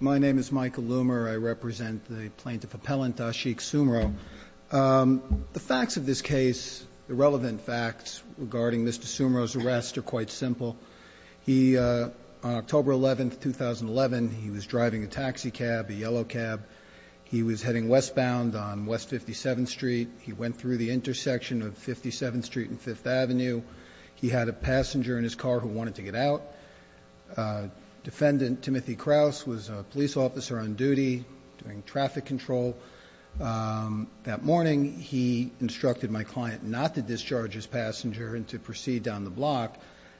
My name is Michael Loomer. I represent the Plaintiff Appellant Ashik Soomro. The facts of this case, the relevant facts regarding Mr. Soomro's arrest are quite simple. On October 11, 2011, he was driving a taxi cab, a yellow cab. He was heading westbound on West 57th Street. He went through the intersection of 57th Street and 5th Avenue. He had a passenger in his car who wanted to get out. Defendant Timothy Krause was a police officer on duty doing traffic control. That morning, he instructed my client not to discharge his passenger and to proceed down the block.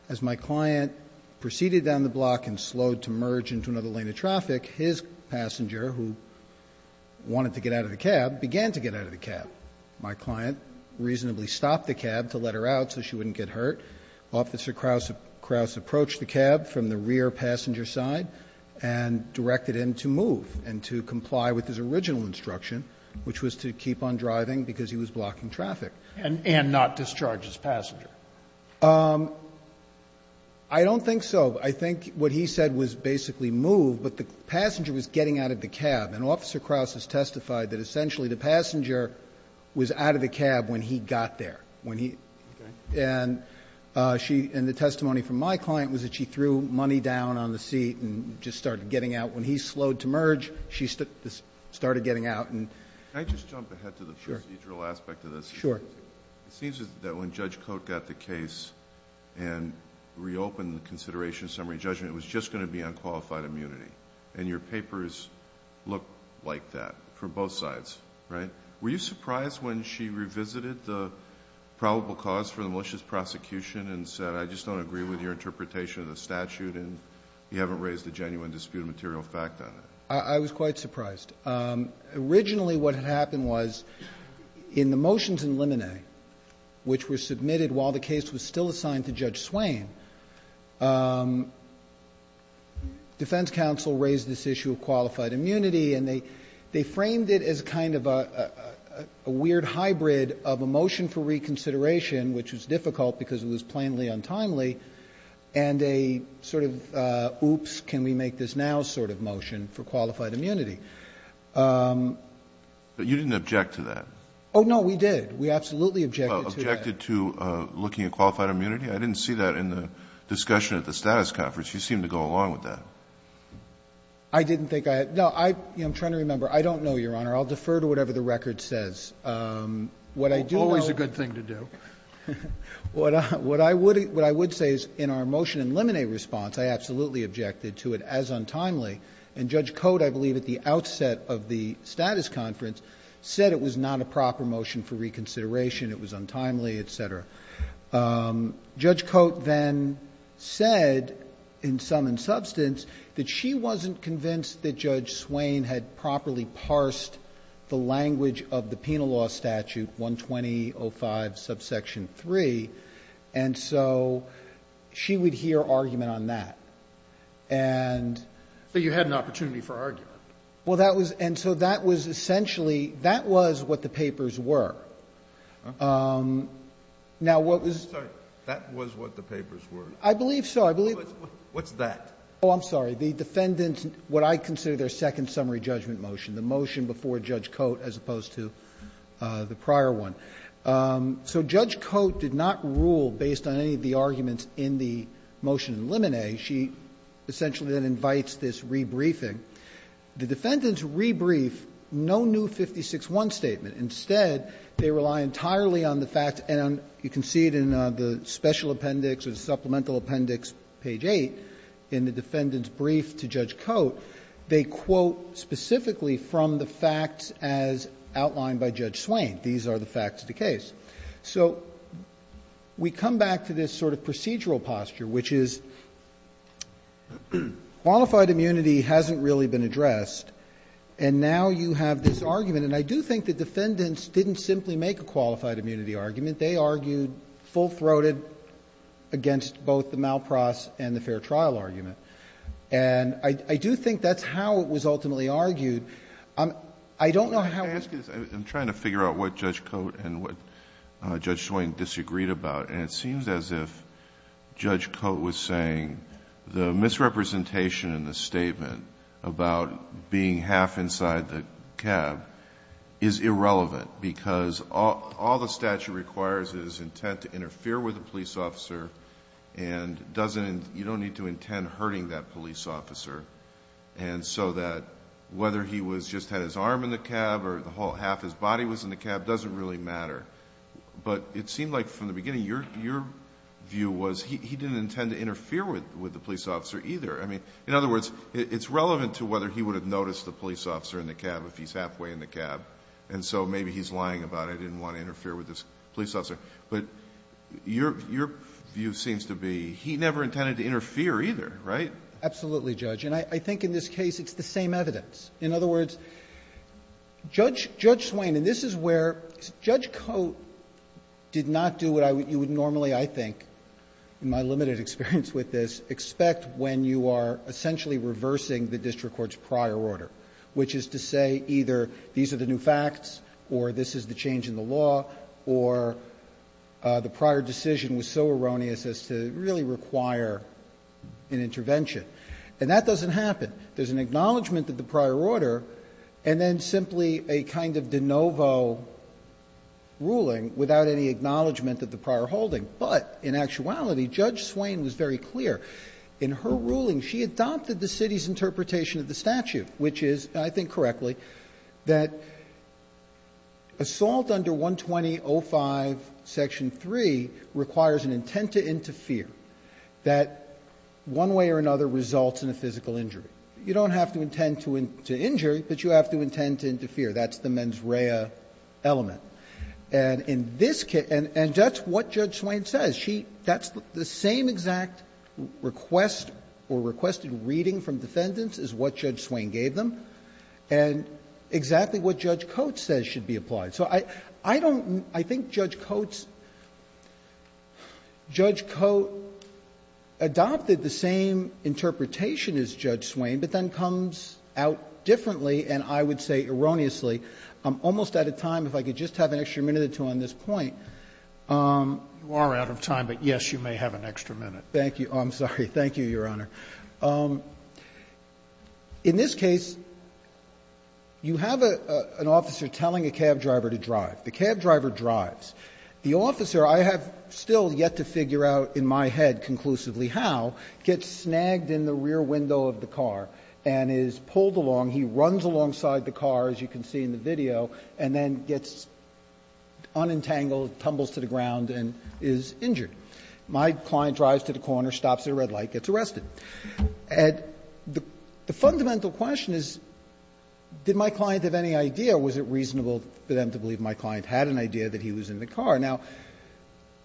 As my client proceeded down the block and slowed to merge into another lane of traffic, his passenger, who wanted to get out of the cab, began to get out of the cab. My client reasonably stopped the cab to let her out so she wouldn't get hurt. Officer Krause approached the cab from the rear passenger side and directed him to move and to comply with his original instruction, which was to keep on driving because he was blocking traffic. And not discharge his passenger? I don't think so. I think what he said was basically move, but the passenger was getting out of the cab. And Officer Krause has testified that essentially the passenger was out of the cab when he got there. And the testimony from my client was that she threw money down on the seat and just started getting out. When he slowed to merge, she started getting out. Can I just jump ahead to the procedural aspect of this? Sure. It seems that when Judge Cote got the case and reopened the consideration summary judgment, it was just going to be on qualified immunity. And your papers look like that from both sides. Right? Were you surprised when she revisited the probable cause for the malicious prosecution and said, I just don't agree with your interpretation of the statute and you haven't raised a genuine disputed material fact on it? I was quite surprised. Originally what had happened was in the motions in Limine, which were submitted while the case was still assigned to Judge Swain, defense counsel raised this issue of qualified immunity, and they framed it as kind of a weird hybrid of a motion for reconsideration, which was difficult because it was plainly untimely, and a sort of oops, can we make this now sort of motion for qualified immunity. But you didn't object to that. Oh, no, we did. We absolutely objected to that. Objected to looking at qualified immunity? I didn't see that in the discussion at the status conference. You seemed to go along with that. I didn't think I had. No, I'm trying to remember. I don't know, Your Honor. I'll defer to whatever the record says. What I do know. It's always a good thing to do. What I would say is in our motion in Limine response, I absolutely objected to it as untimely, and Judge Cote, I believe at the outset of the status conference, said it was not a proper motion for reconsideration. It was untimely, et cetera. Judge Cote then said, in sum and substance, that she wasn't convinced that Judge Swain had properly parsed the language of the Penal Law Statute 120.05 subsection 3, and so she would hear argument on that. And so you had an opportunity for argument. Well, that was, and so that was essentially, that was what the papers were. I'm sorry. That was what the papers were. I believe so. What's that? Oh, I'm sorry. The defendant, what I consider their second summary judgment motion, the motion before Judge Cote as opposed to the prior one. So Judge Cote did not rule based on any of the arguments in the motion in Limine. She essentially then invites this rebriefing. The defendants rebriefed no new 56-1 statement. Instead, they rely entirely on the fact, and you can see it in the special appendix or the supplemental appendix, page 8, in the defendant's brief to Judge Cote. They quote specifically from the facts as outlined by Judge Swain. These are the facts of the case. So we come back to this sort of procedural posture, which is qualified immunity hasn't really been addressed, and now you have this argument. And I do think the defendants didn't simply make a qualified immunity argument. They argued full-throated against both the Malpras and the fair trial argument. And I do think that's how it was ultimately argued. I don't know how it was argued. I'm trying to figure out what Judge Cote and what Judge Swain disagreed about, and it seems as if Judge Cote was saying the misrepresentation in the statement about being half inside the cab is irrelevant because all the statute requires is intent to interfere with a police officer and you don't need to intend hurting that police officer. And so that whether he just had his arm in the cab or the whole half his body was in the cab doesn't really matter. But it seemed like from the beginning your view was he didn't intend to interfere with the police officer either. I mean, in other words, it's relevant to whether he would have noticed the police officer in the cab if he's halfway in the cab, and so maybe he's lying about it, didn't want to interfere with this police officer. But your view seems to be he never intended to interfere either, right? Absolutely, Judge. And I think in this case it's the same evidence. In other words, Judge Swain, and this is where Judge Cote did not do what you would normally, I think, in my limited experience with this, expect when you are essentially reversing the district court's prior order, which is to say either these are the new facts or this is the change in the law or the prior decision was so erroneous as to really require an intervention. And that doesn't happen. There's an acknowledgment of the prior order and then simply a kind of de novo ruling without any acknowledgment of the prior holding. But in actuality, Judge Swain was very clear. In her ruling, she adopted the city's interpretation of the statute, which is, I think correctly, that assault under 120.05 section 3 requires an intent to interfere, that one way or another results in a physical injury. You don't have to intend to injure, but you have to intend to interfere. That's the mens rea element. And in this case, and that's what Judge Swain says. She, that's the same exact request or requested reading from defendants is what Judge Swain gave them and exactly what Judge Cote says should be applied. So I, I don't, I think Judge Cote's, Judge Cote adopted the same interpretation as Judge Swain, but then comes out differently, and I would say erroneously. I'm almost out of time. If I could just have an extra minute or two on this point. Roberts. You are out of time, but yes, you may have an extra minute. Thank you. I'm sorry. Thank you, Your Honor. In this case, you have an officer telling a cab driver to drive. The cab driver drives. The officer, I have still yet to figure out in my head conclusively how, gets snagged in the rear window of the car and is pulled along. He runs alongside the car, as you can see in the video, and then gets unentangled, tumbles to the ground, and is injured. My client drives to the corner, stops at a red light, gets arrested. And the fundamental question is, did my client have any idea? Was it reasonable for them to believe my client had an idea that he was in the car? Now,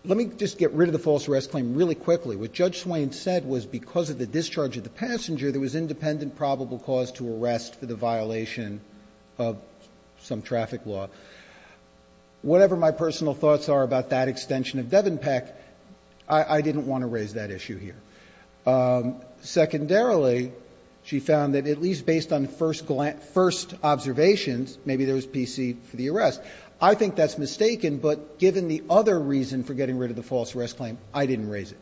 let me just get rid of the false arrest claim really quickly. What Judge Swain said was because of the discharge of the passenger, there was independent probable cause to arrest for the violation of some traffic law. Whatever my personal thoughts are about that extension of Devenpeck, I didn't want to raise that issue here. Secondarily, she found that at least based on first observations, maybe there was PC for the arrest. I think that's mistaken, but given the other reason for getting rid of the false arrest claim, I didn't raise it.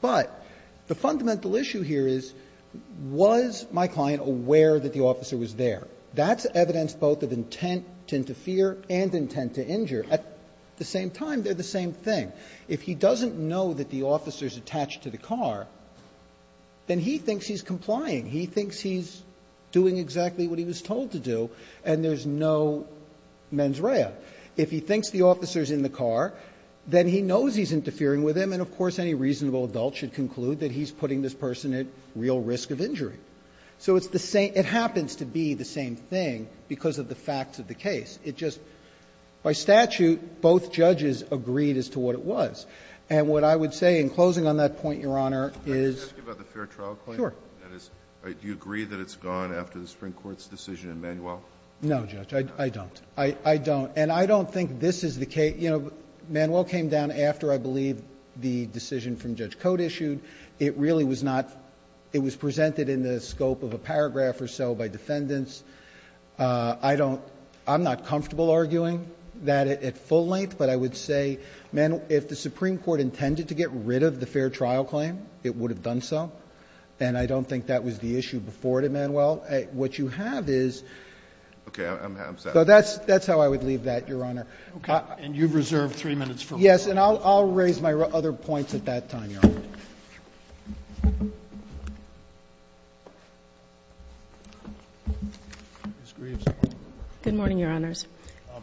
But the fundamental issue here is, was my client aware that the officer was there? That's evidence both of intent to interfere and intent to injure. At the same time, they're the same thing. If he doesn't know that the officer's attached to the car, then he thinks he's complying. He thinks he's doing exactly what he was told to do, and there's no mens rea. If he thinks the officer's in the car, then he knows he's interfering with him. And then, of course, any reasonable adult should conclude that he's putting this person at real risk of injury. So it's the same — it happens to be the same thing because of the facts of the case. It just — by statute, both judges agreed as to what it was. And what I would say in closing on that point, Your Honor, is — Kennedy, are you asking about the fair trial claim? Sure. That is, do you agree that it's gone after the Supreme Court's decision in Manuel? No, Judge, I don't. I don't. And I don't think this is the case. You know, Manuel came down after, I believe, the decision from Judge Cote issued. It really was not — it was presented in the scope of a paragraph or so by defendants. I don't — I'm not comfortable arguing that at full length, but I would say, if the Supreme Court intended to get rid of the fair trial claim, it would have done so. And I don't think that was the issue before it in Manuel. What you have is — Okay. I'm sorry. So that's how I would leave that, Your Honor. Okay. And you've reserved three minutes for me. Yes. And I'll raise my other points at that time, Your Honor. Ms. Greaves. Good morning, Your Honors.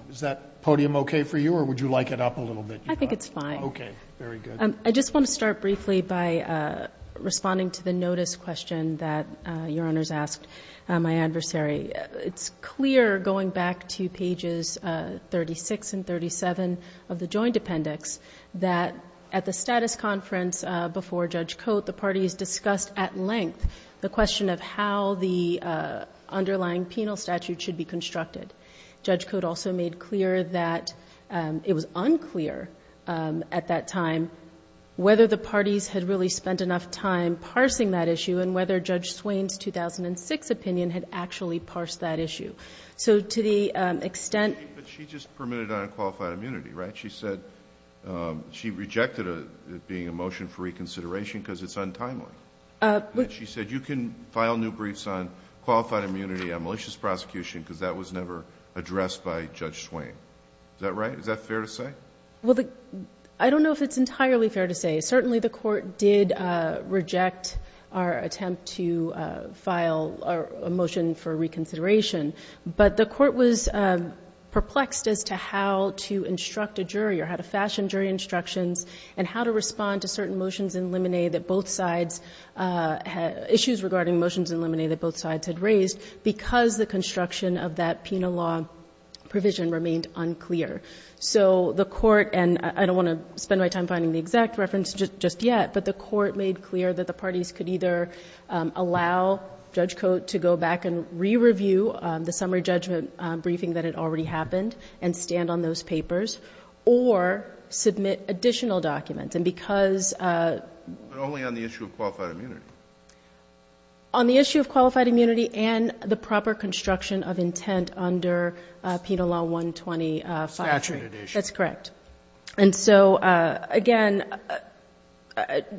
Is that podium okay for you, or would you like it up a little bit? I think it's fine. Okay. Very good. I just want to start briefly by responding to the notice question that Your Honors asked my adversary. It's clear, going back to pages 36 and 37 of the joint appendix, that at the status conference before Judge Cote, the parties discussed at length the question of how the underlying penal statute should be constructed. Judge Cote also made clear that it was unclear at that time whether the parties had really spent enough time parsing that issue and whether Judge Swain's 2006 opinion had actually parsed that issue. So to the extent— But she just permitted unqualified immunity, right? She said she rejected it being a motion for reconsideration because it's untimely. She said you can file new briefs on qualified immunity on malicious prosecution because that was never addressed by Judge Swain. Is that right? Is that fair to say? Well, I don't know if it's entirely fair to say. Certainly, the Court did reject our attempt to file a motion for reconsideration. But the Court was perplexed as to how to instruct a jury or how to fashion jury instructions and how to respond to certain motions in limine that both sides—issues regarding motions in limine that both sides had raised because the construction of that penal law provision remained unclear. So the Court—and I don't want to spend my time finding the exact reference just yet—but the Court made clear that the parties could either allow Judge Cote to go back and re-review the summary judgment briefing that had already happened and stand on those papers or submit additional documents. And because— But only on the issue of qualified immunity. On the issue of qualified immunity and the proper construction of intent under Penal Law 120-5-3. Saturated issue. That's correct. And so, again,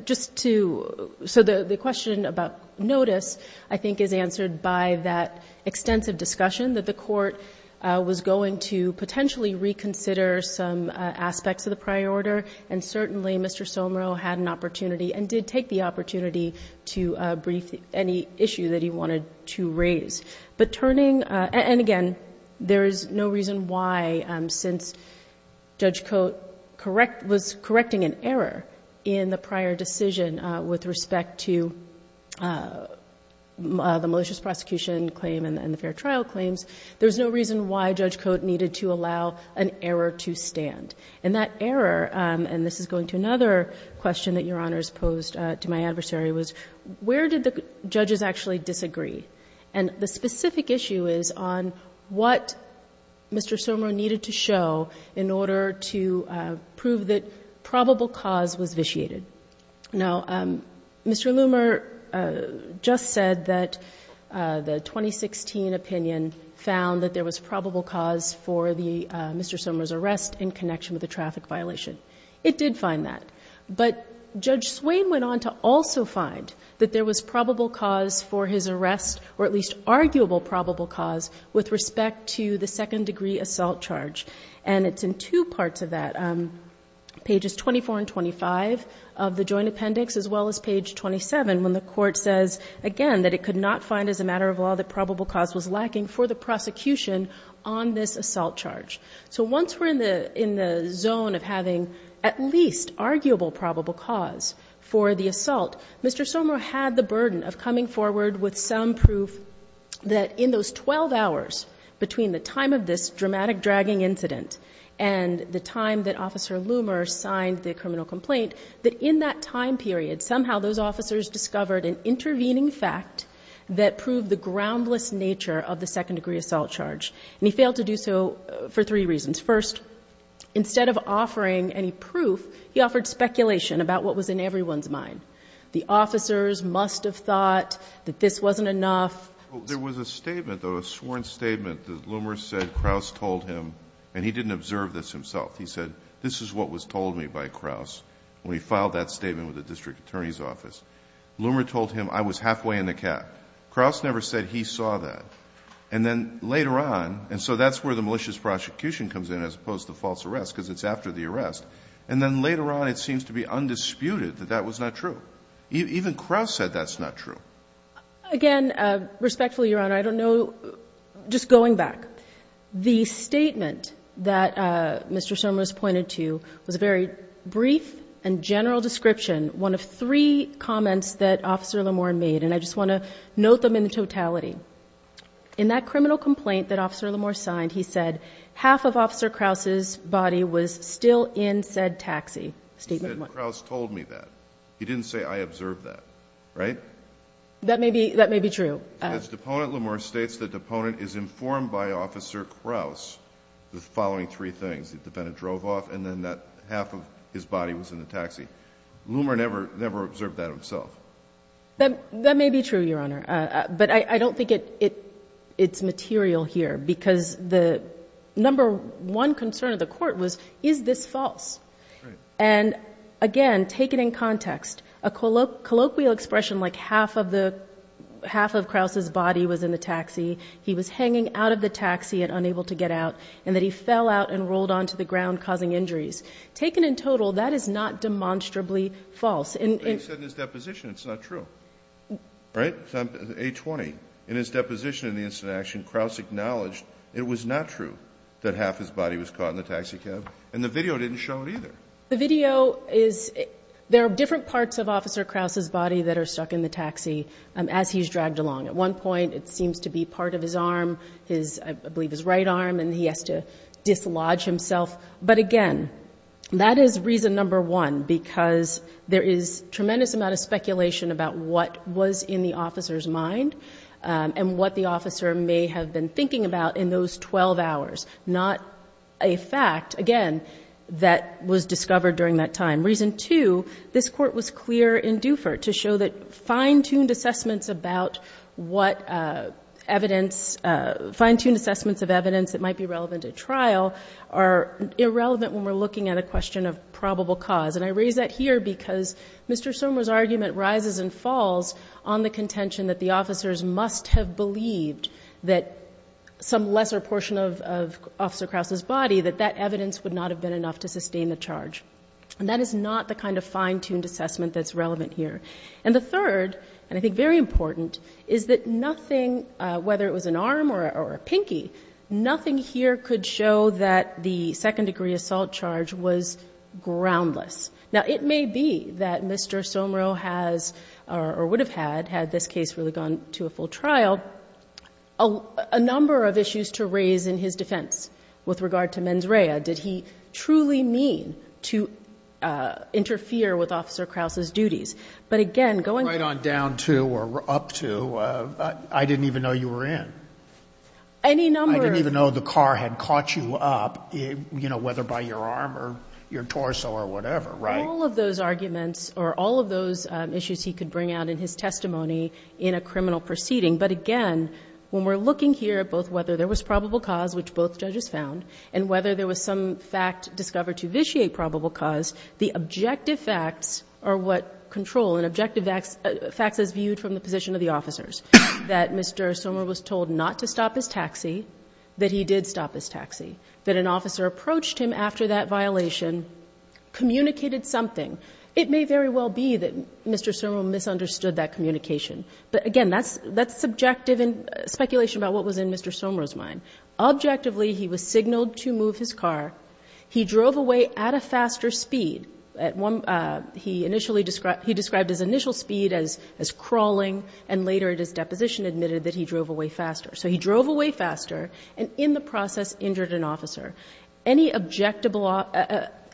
just to—so the question about notice, I think, is answered by that extensive discussion that the Court was going to potentially reconsider some aspects of the prior order. And certainly, Mr. Somerville had an opportunity and did take the opportunity to brief any issue that he wanted to raise. But turning—and, again, there is no reason why, since Judge Cote was correcting an error in the prior decision with respect to the malicious prosecution claim and the fair trial claims, there's no reason why Judge Cote needed to allow an error to stand. And that error—and this is going to another question that Your Honors posed to my adversary—was where did the judges actually disagree? And the specific issue is on what Mr. Somerville needed to show in order to prove that probable cause was vitiated. Now, Mr. Loomer just said that the 2016 opinion found that there was probable cause for the—Mr. Somerville's arrest in connection with the traffic violation. It did find that. But Judge Swain went on to also find that there was probable cause for his arrest, or at least arguable probable cause, with respect to the second-degree assault charge. And it's in two parts of that, pages 24 and 25 of the Joint Appendix, as well as page 27, when the Court says, again, that it could not find as a matter of law that probable cause was lacking for the prosecution on this assault charge. So once we're in the—in the zone of having at least arguable probable cause for the assault, Mr. Somerville had the burden of coming forward with some proof that in those 12 hours between the time of this dramatic dragging incident and the time that Officer Loomer signed the criminal complaint, that in that time period, somehow those officers discovered an intervening fact that proved the groundless nature of the second-degree assault charge. And he failed to do so for three reasons. First, instead of offering any proof, he offered speculation about what was in everyone's mind. The officers must have thought that this wasn't enough. There was a statement, though, a sworn statement that Loomer said Krauss told him, and he didn't observe this himself. He said, this is what was told me by Krauss when he filed that statement with the District Attorney's Office. Loomer told him, I was halfway in the cat. Krauss never said he saw that. And then later on, and so that's where the malicious prosecution comes in as opposed to false arrest, because it's after the arrest. And then later on, it seems to be undisputed that that was not true. Even Krauss said that's not true. Again, respectfully, Your Honor, I don't know, just going back. The statement that Mr. Somerville has pointed to was a very brief and general description, one of three comments that Officer Loomer made. And I just want to note them in totality. In that criminal complaint that Officer Loomer signed, he said half of Officer Krauss's body was still in said taxi, statement one. He said Krauss told me that. He didn't say I observed that, right? That may be true. His deponent, Loomer, states the deponent is informed by Officer Krauss the following three things, that the defendant drove off and then that half of his body was in the taxi. Loomer never observed that himself. That may be true, Your Honor. But I don't think it's material here because the number one concern of the court was, is this false? And again, take it in context, a colloquial expression like half of Krauss's body was in the taxi, he was hanging out of the taxi and unable to get out, and that he fell out and rolled onto the ground causing injuries. Taken in total, that is not demonstrably false. But he said in his deposition it's not true, right? A-20. In his deposition in the incident of action, Krauss acknowledged it was not true that half his body was caught in the taxi cab and the video didn't show it either. The video is, there are different parts of Officer Krauss's body that are stuck in the taxi as he's dragged along. At one point, it seems to be part of his arm, I believe his right arm, and he has to dislodge himself. But again, that is reason number one, because there is tremendous amount of speculation about what was in the officer's mind and what the officer may have been thinking about in those 12 hours. Not a fact, again, that was discovered during that time. Reason two, this court was clear in Dufour to show that fine-tuned assessments about what evidence, fine-tuned assessments of evidence that might be relevant at trial are irrelevant when we're looking at a question of probable cause. And I raise that here because Mr. Somer's argument rises and falls on the contention that the officers must have believed that some lesser portion of Officer Krauss's body, that that evidence would not have been enough to sustain the charge. And that is not the kind of fine-tuned assessment that's relevant here. And the third, and I think very important, is that nothing, whether it was an arm or a pinky, nothing here could show that the second-degree assault charge was groundless. Now, it may be that Mr. Somer has or would have had, had this case really gone to a full trial, a number of issues to raise in his defense with regard to mens rea. Did he truly mean to interfere with Officer Krauss's duties? But again, going on down to or up to, I didn't even know you were in. I didn't even know the car had caught you up, you know, whether by your arm or your torso or whatever, right? All of those arguments or all of those issues he could bring out in his testimony in a criminal proceeding. But again, when we're looking here at both whether there was probable cause, which both judges found, and whether there was some fact discovered to vitiate probable cause, the objective facts are what control, and objective facts is viewed from the position of the officers, that Mr. Somer was told not to stop his taxi, that he did stop his taxi, that an officer approached him after that violation, communicated something. It may very well be that Mr. Somer misunderstood that communication. But again, that's subjective speculation about what was in Mr. Somer's mind. Objectively, he was signaled to move his car. He drove away at a faster speed. At one, he initially described, he described his initial speed as crawling, and later at his deposition admitted that he drove away faster. So he drove away faster, and in the process injured an officer. Any objectable,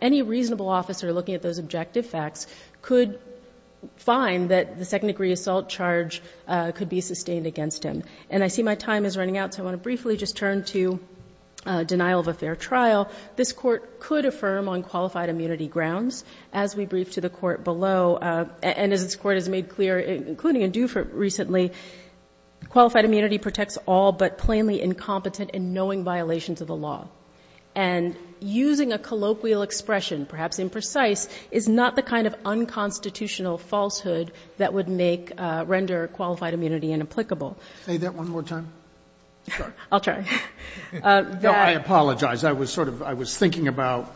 any reasonable officer looking at those objective facts could find that the second-degree assault charge could be sustained against him. And I see my time is running out, so I want to briefly just turn to denial of a fair trial. This Court could affirm on qualified immunity grounds, as we briefed to the Court below, and as this Court has made clear, including in Dufour recently, qualified immunity protects all but plainly incompetent in knowing violations of the law. And using a colloquial expression, perhaps imprecise, is not the kind of unconstitutional falsehood that would make, render qualified immunity inapplicable. Say that one more time. I'll try. No, I apologize. I was sort of, I was thinking about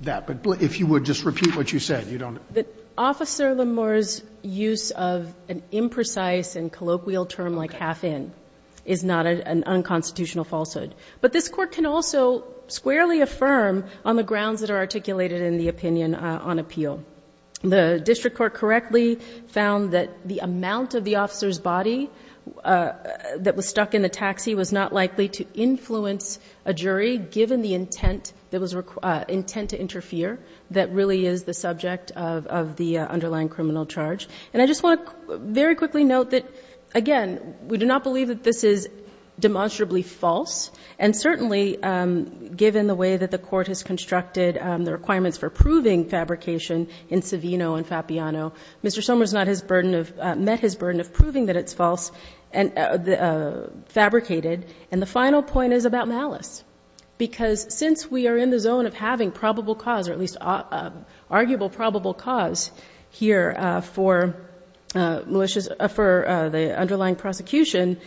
that, but if you would just repeat what you said. You don't. Officer Lemore's use of an imprecise and colloquial term like half-in is not an unconstitutional falsehood, but this Court can also squarely affirm on the grounds that are articulated in the opinion on appeal. The district court correctly found that the amount of the officer's body that was stuck in the taxi was not likely to influence a jury, given the intent that was, intent to interfere, that really is the subject of the underlying criminal charge. And I just want to very quickly note that, again, we do not believe that this is demonstrably false, and certainly, given the way that the Court has constructed the requirements for proving fabrication in Savino and Fapiano, Mr. Somers not his burden of, met his burden of proving that it's false and fabricated. And the final point is about malice. Because since we are in the zone of having probable cause, or at least arguable probable cause here for malicious, for the underlying prosecution,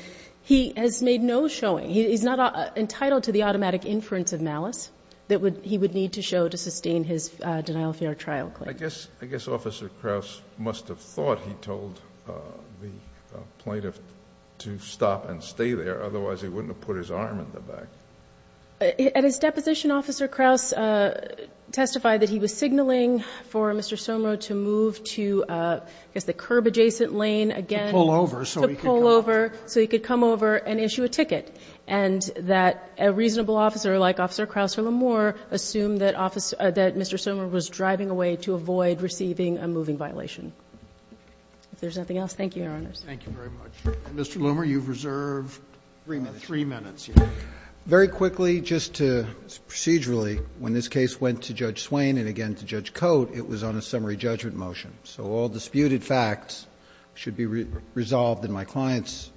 he has made no showing. He's not entitled to the automatic inference of malice that he would need to show to sustain his denial of fair trial claim. I guess, I guess Officer Krauss must have thought he told the plaintiff to stop and stay there. Otherwise, he wouldn't have put his arm in the back. At his deposition, Officer Krauss testified that he was signaling for Mr. Somers to move to, I guess, the curb adjacent lane, again, to pull over, so he could come over and issue a ticket. And that a reasonable officer, like Officer Krauss or Lamour, assumed that Mr. Somers was driving away to avoid receiving a moving violation. If there's nothing else, thank you, Your Honors. Roberts. Thank you very much. Mr. Loomer, you've reserved three minutes. Three minutes. Very quickly, just procedurally, when this case went to Judge Swain and again to Judge Cote, it was on a summary judgment motion. So all disputed facts should be resolved in my client's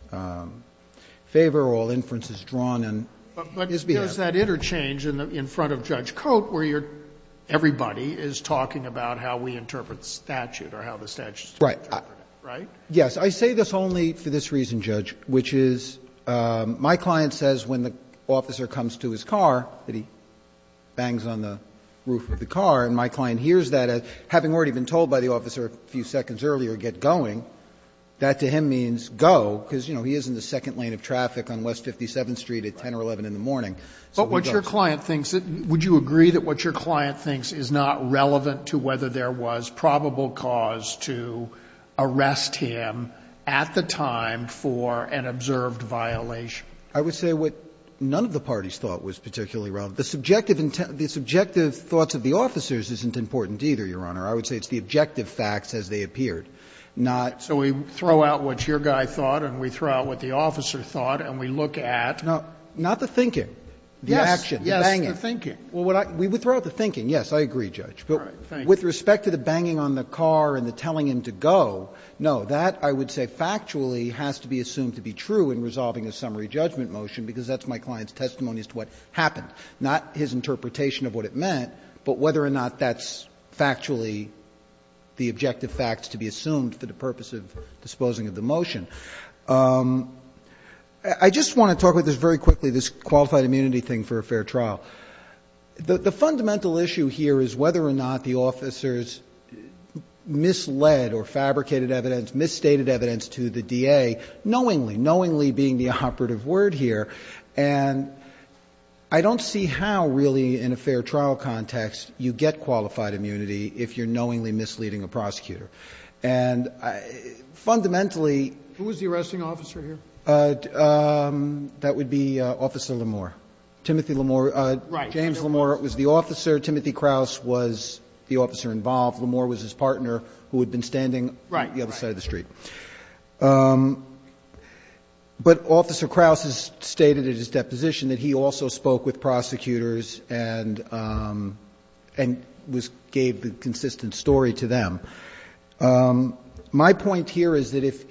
favor, all inferences drawn in his behalf. But there's that interchange in front of Judge Cote where you're – everybody is talking about how we interpret the statute or how the statute is to be interpreted, right? Yes. I say this only for this reason, Judge, which is my client says when the officer comes to his car that he bangs on the roof of the car, and my client hears that, having already been told by the officer a few seconds earlier, get going, that to him means go, because, you know, he is in the second lane of traffic on West 57th Street at 10 or 11 in the morning. So he goes. But what your client thinks – would you agree that what your client thinks is not relevant to whether there was probable cause to arrest him at the time for an observed violation? I would say what none of the parties thought was particularly relevant. The subjective – the subjective thoughts of the officers isn't important either, I would say it's the objective facts as they appeared, not the objective facts. So we throw out what your guy thought, and we throw out what the officer thought, and we look at – No. Not the thinking. The action. The banging. Yes. The thinking. Well, what I – we throw out the thinking, yes, I agree, Judge. All right. Thank you. But with respect to the banging on the car and the telling him to go, no, that I would say factually has to be assumed to be true in resolving a summary judgment motion, because that's my client's testimony as to what happened, not his interpretation of what it meant, but whether or not that's factually the objective facts to be assumed for the purpose of disposing of the motion. I just want to talk about this very quickly, this qualified immunity thing for a fair trial. The fundamental issue here is whether or not the officers misled or fabricated evidence, misstated evidence to the DA knowingly, knowingly being the operative word here, and I don't see how really in a fair trial context you get qualified immunity if you're knowingly misleading a prosecutor. And fundamentally… Who was the arresting officer here? That would be Officer Lamore. Timothy Lamore. Right. James Lamore was the officer. Timothy Krause was the officer involved. Lamore was his partner who had been standing on the other side of the street. Right. But Officer Krause has stated in his deposition that he also spoke with prosecutors and was – gave the consistent story to them. My point here is that if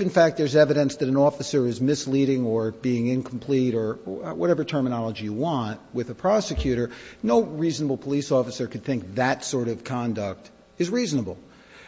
in fact there's evidence that an officer is misleading or being incomplete or whatever terminology you want with a prosecutor, no reasonable police officer could think that sort of conduct is reasonable,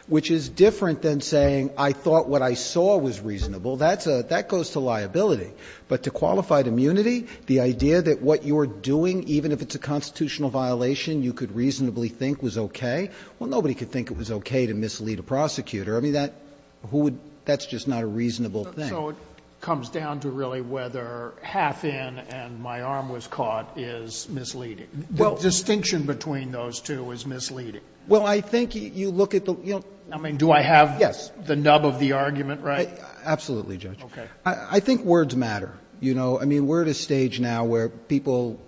which is different than saying I thought what I saw was reasonable. That goes to liability. But to qualified immunity, the idea that what you're doing, even if it's a constitutional violation, you could reasonably think was okay, well, nobody could think it was okay to mislead a prosecutor. I mean, that – who would – that's just not a reasonable thing. So it comes down to really whether half in and my arm was caught is misleading. Well, distinction between those two is misleading. Well, I think you look at the – you know. I mean, do I have the nub of the argument right? Absolutely, Judge. Okay. I think words matter, you know. I mean, we're at a stage now where people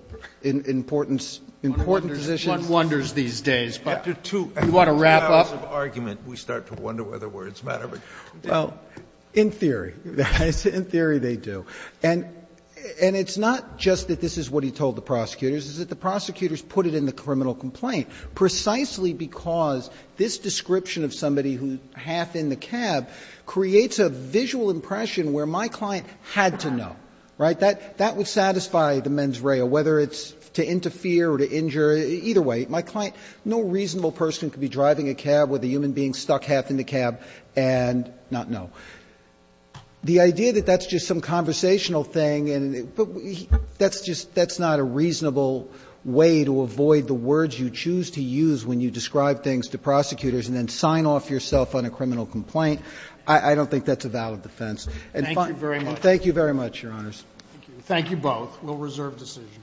in important positions. One wonders these days. After two hours of argument, we start to wonder whether words matter. Well, in theory. In theory, they do. And it's not just that this is what he told the prosecutors. It's that the prosecutors put it in the criminal complaint precisely because this description of somebody who's half in the cab creates a visual impression where my client had to know, right? That would satisfy the mens rea, whether it's to interfere or to injure. Either way, my client – no reasonable person could be driving a cab with a human being stuck half in the cab and not know. The idea that that's just some conversational thing and – but that's just – that's not a reasonable way to avoid the words you choose to use when you describe things to prosecutors and then sign off yourself on a criminal complaint. I don't think that's a valid defense. And if I'm – Thank you very much. Thank you very much, Your Honors. Thank you. Thank you both. We'll reserve decision.